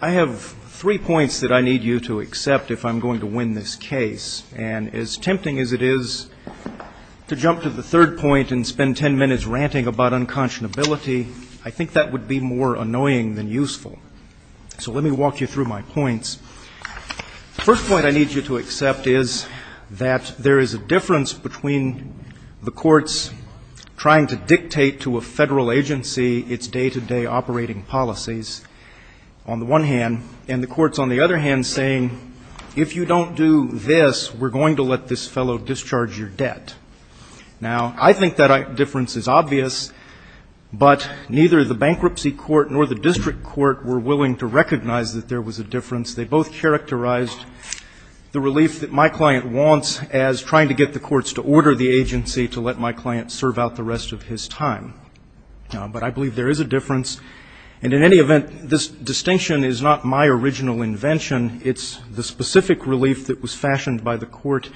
I have three points that I need you to accept if I'm going to win this case. And as tempting as it is to jump to the third point and spend ten minutes ranting about unconscionability, I think that would be more annoying than useful. So let me walk you through my points. The first point I need you to accept is that there is a difference between the courts trying to dictate to a federal agency its day-to-day operating policies, on the one hand, and the courts, on the other hand, saying, if you don't do this, we're going to let this fellow discharge your debt. Now, I think that difference is obvious, but neither the bankruptcy court nor the district court were willing to recognize that there was a difference. They both characterized the relief that my client wants as trying to get the courts to order the agency to let my client serve out the rest of his time. But I believe there is a difference. And in any event, this distinction is not my original invention. It's the specific relief that was fashioned by the court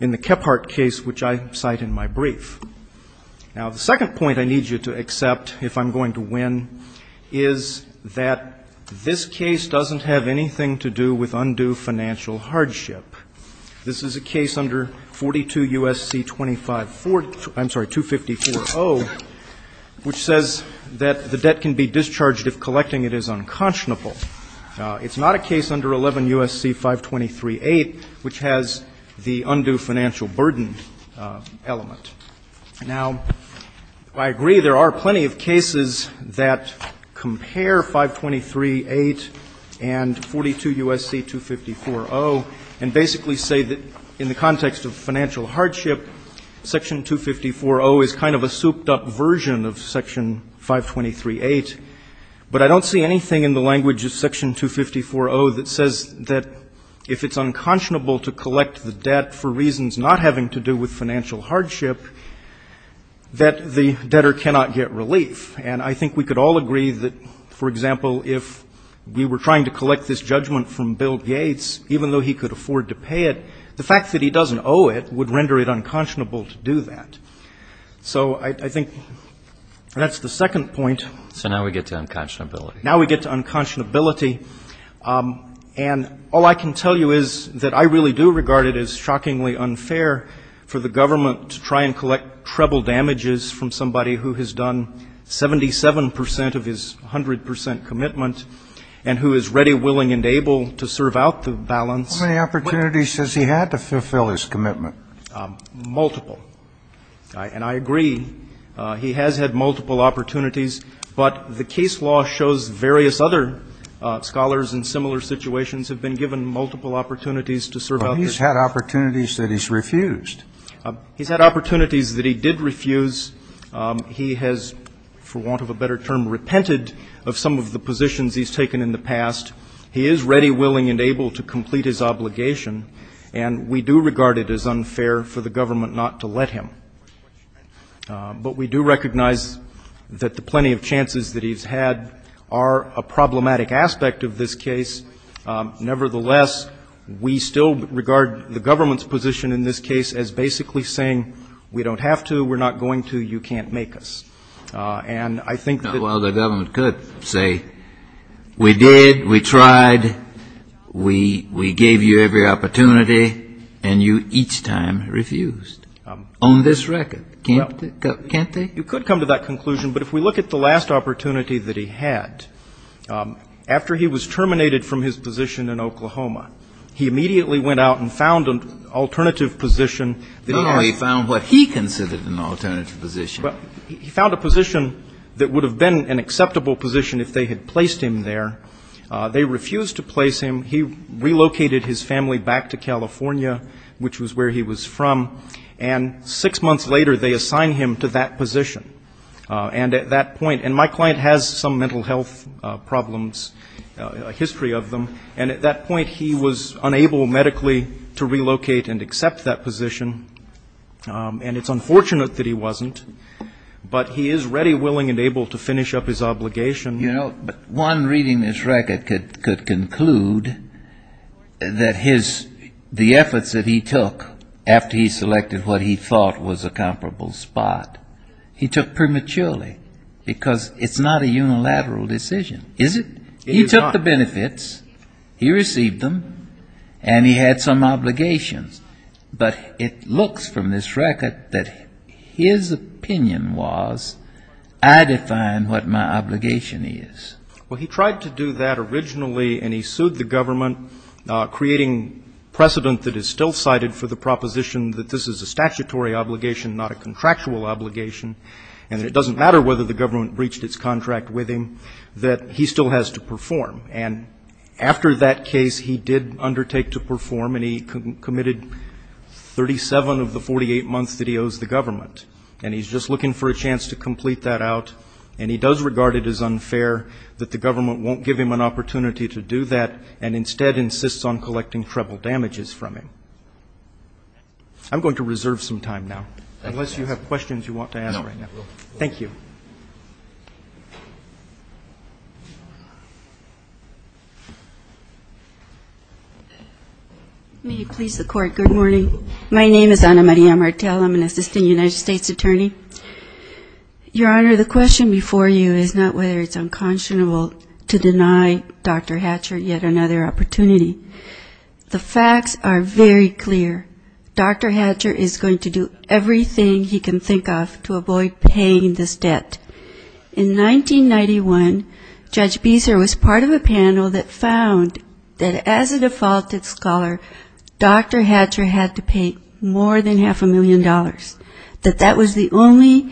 in the Kephart case, which I cite in my brief. Now, the second point I need you to accept, if I'm going to win, is that this case doesn't have anything to do with undue financial hardship. This is a case under 42 U.S.C. 2540, which says that the debt can be discharged if collecting it is unconscionable. It's not a case under 11 U.S.C. 523.8, which has the undue financial burden element. Now, I agree there are plenty of cases that compare 523.8 and 42 U.S.C. 2540 and basically say that in the context of financial hardship, Section 2540 is kind of a souped-up version of Section 523.8. But I don't see anything in the language of Section 2540 that says that if it's unconscionable, to collect the debt for reasons not having to do with financial hardship, that the debtor cannot get relief. And I think we could all agree that, for example, if we were trying to collect this judgment from Bill Gates, even though he could afford to pay it, the fact that he doesn't owe it would render it unconscionable to do that. So I think that's the second point. So now we get to unconscionability. And all I can tell you is that I really do regard it as shockingly unfair for the government to try and collect treble damages from somebody who has done 77 percent of his 100 percent commitment and who is ready, willing, and able to serve out the balance. How many opportunities has he had to fulfill his commitment? Multiple. And I agree. He has had multiple opportunities. But the case law shows various other scholars in similar situations have been given multiple opportunities to serve out this case. But he's had opportunities that he's refused. He's had opportunities that he did refuse. He has, for want of a better term, repented of some of the positions he's taken in the past. He is ready, willing, and able to complete his obligation. And we do regard it as unfair for the government not to let him. But we do recognize that the plenty of chances that he's had are a problematic aspect of this case. Nevertheless, we still regard the government's position in this case as basically saying we don't have to, we're not going to, you can't make us. And I think that the government could say, we did, we tried, we gave you every opportunity, and you each time refused. On this record, can't they? You could come to that conclusion. But if we look at the last opportunity that he had, after he was terminated from his position in Oklahoma, he immediately went out and found an alternative position. Oh, he found what he considered an alternative position. He found a position that would have been an acceptable position if they had placed him there. They refused to place him. He relocated his family back to California, which was where he was from. And six months later, they assigned him to that position. And at that point, and my client has some mental health problems, a history of them. And at that point, he was unable medically to relocate and accept that position. And it's unfortunate that he wasn't. But he is ready, willing, and able to finish up his obligation. You know, one reading this record could conclude that the efforts that he took after he selected what he thought was a comparable spot, he took prematurely, because it's not a unilateral decision, is it? He took the benefits, he received them, and he had some obligations. But it looks from this record that his opinion was, I define what my obligation is. Well, he tried to do that originally, and he sued the government, creating precedent that is still cited for the proposition that this is a statutory obligation, not a contractual obligation, and that it doesn't matter whether the government breached its contract with him, that he still has to perform. And after that case, he did undertake to perform, and he committed 37 of the 48 months that he owes the government. And he's just looking for a chance to complete that out. And he does regard it as unfair that the government won't give him an opportunity to do that, and instead insists on collecting treble damages from him. I'm going to reserve some time now, unless you have questions you want to ask right now. Thank you. Anna Maria Martel. May you please the court. Good morning. My name is Anna Maria Martel. I'm an assistant United States attorney. Your Honor, the question before you is not whether it's unconscionable to deny Dr. Hatcher yet another opportunity. The facts are very clear. Dr. Hatcher is going to do everything he can think of to avoid paying this debt. In 1991, Judge Beeser was part of a panel that found that as a defaulted scholar, Dr. Hatcher had to pay more than half a million dollars. That that was the only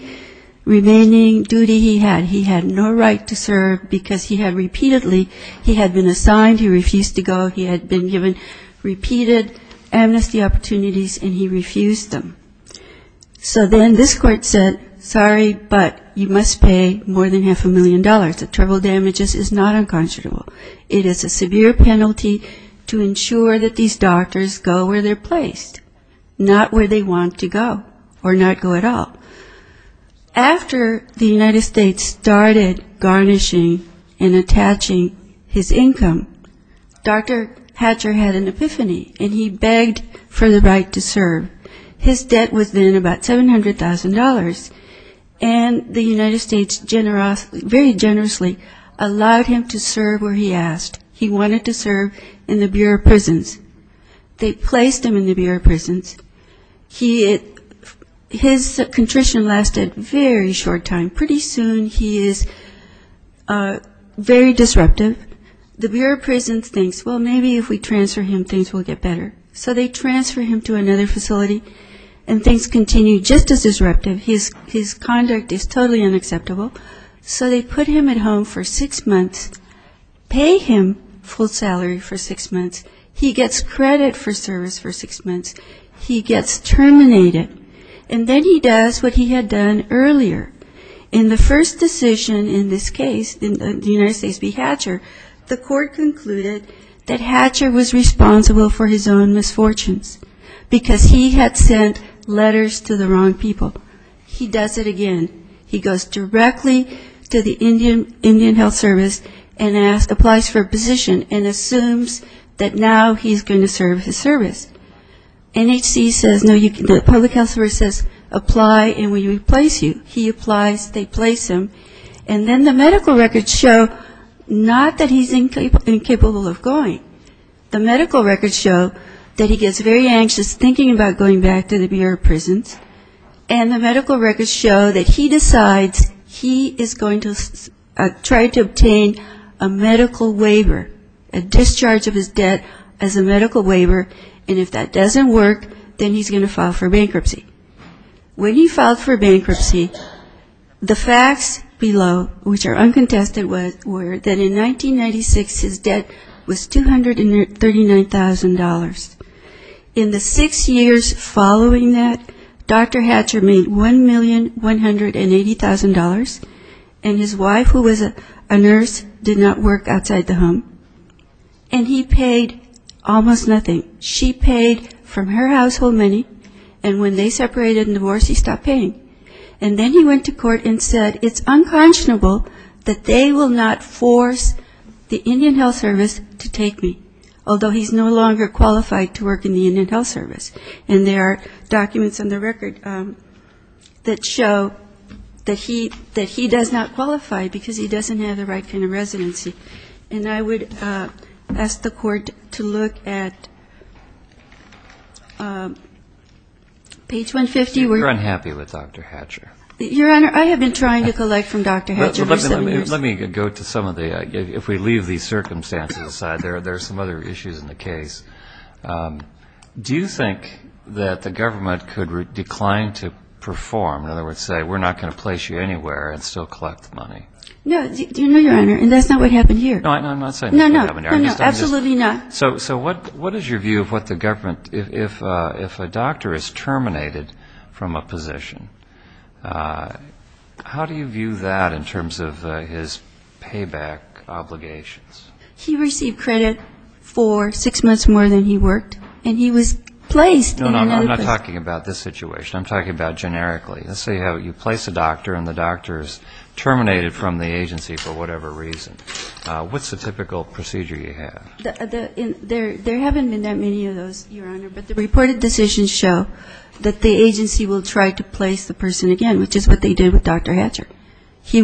remaining duty he had. He had no right to serve because he had repeatedly, he had been assigned, he refused to go, he had been given repeated amnesty opportunities, and he refused them. So then this court said, sorry, but you must pay more than half a million dollars. The treble damages is not unconscionable. It is a severe penalty to ensure that these doctors go where they're placed, not where they want to go, or not go at all. After the United States started garnishing and attaching his income, Dr. Hatcher had an epiphany, and he begged for the right to serve. His debt was then about $700,000, and the United States very generously allowed him to serve where he asked. He wanted to serve in the Bureau of Prisons. They placed him in the Bureau of Prisons. His contrition lasted a very short time. Pretty soon he is very disruptive. The Bureau of Prisons thinks, well, maybe if we transfer him, things will get better. So they transfer him to another facility, and things continue just as disruptive. His conduct is totally unacceptable. So they put him at home for six months, pay him full salary for six months. He gets credit for service for six months. He gets terminated. And then he does what he had done earlier. In the first decision in this case, in the United States v. Hatcher, the court concluded that Hatcher was responsible for his own misfortunes because he had sent letters to the wrong people. He does it again. He goes directly to the Indian Health Service and applies for a position and assumes that now he's going to serve his service. The public health officer says, apply and we will replace you. He applies. They place him. And then the medical records show not that he's incapable of going. The medical records show that he gets very anxious thinking about going back to the Bureau of Prisons. And the medical records show that he decides he is going to try to obtain a medical waiver, a discharge of his debt as a medical waiver. And if that doesn't work, then he's going to file for bankruptcy. When he filed for bankruptcy, the facts below, which are uncontested, were that in 1996 his debt was $239,000. In the six years following that, Dr. Hatcher made $1,180,000. And his wife, who was a nurse, did not work outside the home. And he paid almost nothing. She paid from her household money. And when they separated and divorced, he stopped paying. And then he went to court and said it's unconscionable that they will not force the Indian Health Service to take me, although he's no longer qualified to work in the Indian Health Service. And there are documents on the record that show that he does not qualify because he doesn't have the right kind of residency. And I would ask the court to look at page 150. You're unhappy with Dr. Hatcher. Your Honor, I have been trying to collect from Dr. Hatcher for seven years. Let me go to some of the, if we leave these circumstances aside, there are some other issues in the case. Do you think that the government could decline to perform, in other words, say we're not going to place you anywhere and still collect the money? No, no, Your Honor. And that's not what happened here. No, I'm not saying that. No, no. Absolutely not. So what is your view of what the government, if a doctor is terminated from a position, how do you view that in terms of his payback obligations? He received credit for six months more than he worked. And he was placed in another position. No, no, I'm not talking about this situation. I'm talking about generically. Let's say you place a doctor and the doctor is terminated from the agency for whatever reason. What's the typical procedure you have? There haven't been that many of those, Your Honor, but the reported decisions show that the agency will try to place the person again, which is what they did with Dr. Hatcher. He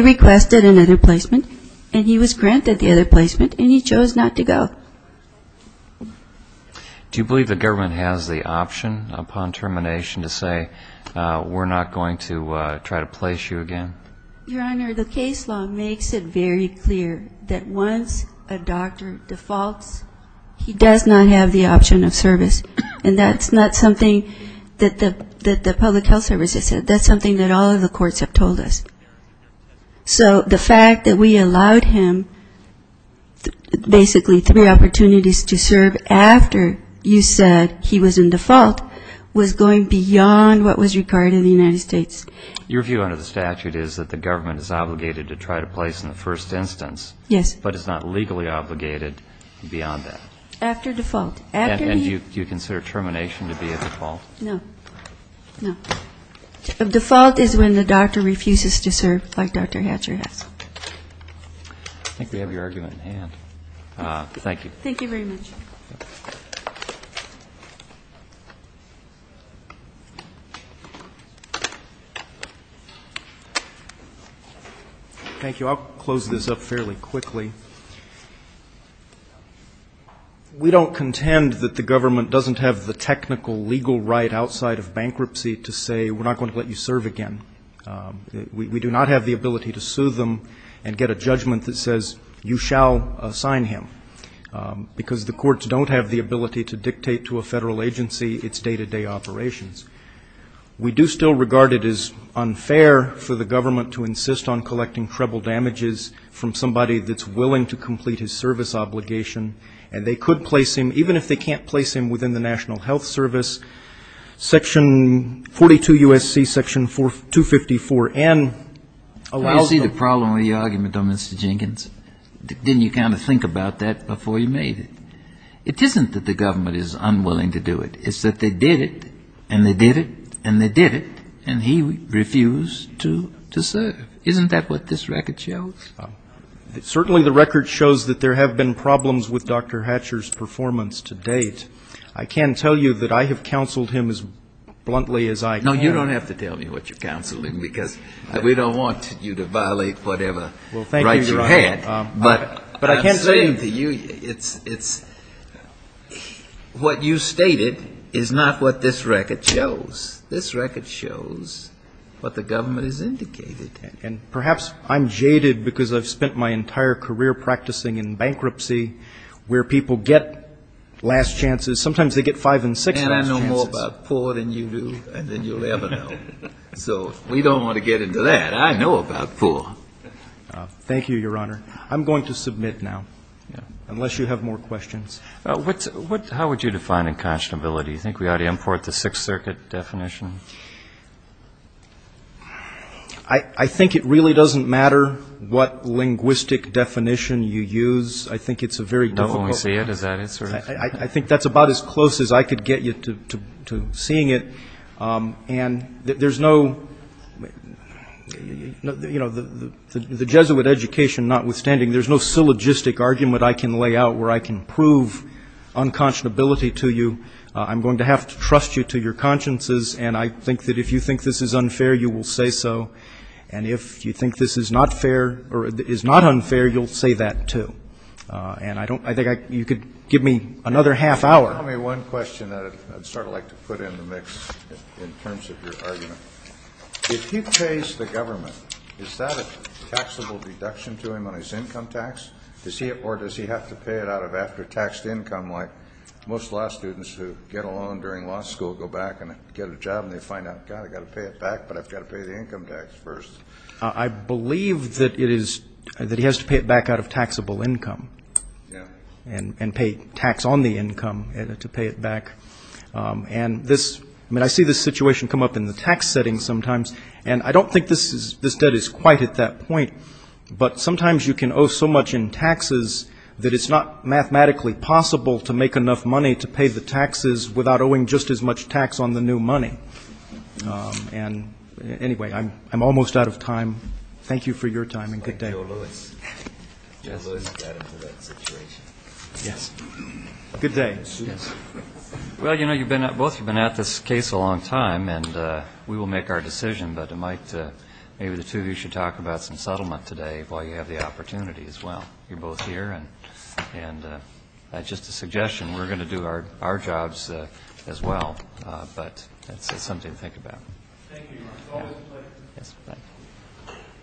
requested another placement and he was granted the other placement and he chose not to go. Do you believe the government has the option upon termination to say we're not going to try to place you again? Your Honor, the case law makes it very clear that once a doctor defaults, he does not have the option of service. And that's not something that the public health service has said. That's something that all of the courts have told us. So the fact that we allowed him basically three opportunities to serve after you said he was in default was going beyond what was required in the United States. Your view under the statute is that the government is obligated to try to place in the first instance. Yes. But it's not legally obligated beyond that. After default. And do you consider termination to be a default? No. No. A default is when the doctor refuses to serve like Dr. Hatcher has. I think we have your argument in hand. Thank you. Thank you very much. Thank you. I'll close this up fairly quickly. We don't contend that the government doesn't have the technical legal right outside of bankruptcy to say we're not going to let you serve again. We do not have the ability to sue them and get a judgment that says you shall assign him because the courts don't have the ability to dictate to a federal agency its day-to-day operations. We do still regard it as unfair for the government to insist on collecting treble damages from somebody that's willing to complete his service obligation. And they could place him, even if they can't place him, within the National Health Service. Section 42 U.S.C. Section 254N allows them. You see the problem or the argument on Mr. Jenkins? Didn't you kind of think about that before you made it? It isn't that the government is unwilling to do it. It's that they did it, and they did it, and they did it, and he refused to serve. Isn't that what this record shows? Certainly the record shows that there have been problems with Dr. Hatcher's performance to date. I can tell you that I have counseled him as bluntly as I can. No, you don't have to tell me what you're counseling because we don't want you to violate whatever rights you had. Well, thank you, Your Honor. But I'm saying to you, it's what you stated is not what this record shows. This record shows what the government has indicated. And perhaps I'm jaded because I've spent my entire career practicing in bankruptcy where people get last chances. Sometimes they get five and six last chances. And I know more about poor than you do than you'll ever know. So we don't want to get into that. I know about poor. Thank you, Your Honor. I'm going to submit now, unless you have more questions. How would you define inconscionability? Do you think we ought to import the Sixth Circuit definition? I think it really doesn't matter what linguistic definition you use. I think it's a very difficult... When we see it, is that it? I think that's about as close as I could get you to seeing it. And there's no... The Jesuit education notwithstanding, there's no syllogistic argument I can lay out where I can prove inconscionability to you. I'm going to have to trust you to your consciences. And I think that if you think this is unfair, you will say so. And if you think this is not unfair, you'll say that too. And I think you could give me another half hour. Tell me one question that I'd sort of like to put in the mix in terms of your argument. If he pays the government, is that a taxable deduction to him on his income tax? Or does he have to pay it out of after-taxed income, like most law students who get a loan during law school go back and get a job and they find out, God, I've got to pay it back, but I've got to pay the income tax first. I believe that it is... that he has to pay it back out of taxable income. And pay tax on the income to pay it back. And this... I mean, I see this situation come up in the tax setting sometimes. And I don't think this debt is quite at that point. But sometimes you can owe so much in taxes that it's not mathematically possible to make enough money to pay the taxes without owing just as much tax on the new money. And anyway, I'm almost out of time. Thank you for your time, and good day. Thank you, Mr. O. Lewis. Lewis got into that situation. Yes. Good day. Well, you know, both of you have been at this case a long time, and we will make our decision, but maybe the two of you should talk about some settlement today while you have the opportunity as well. You're both here, and just a suggestion, we're going to do our jobs as well. But it's something to think about. Thank you, Mark. Always a pleasure.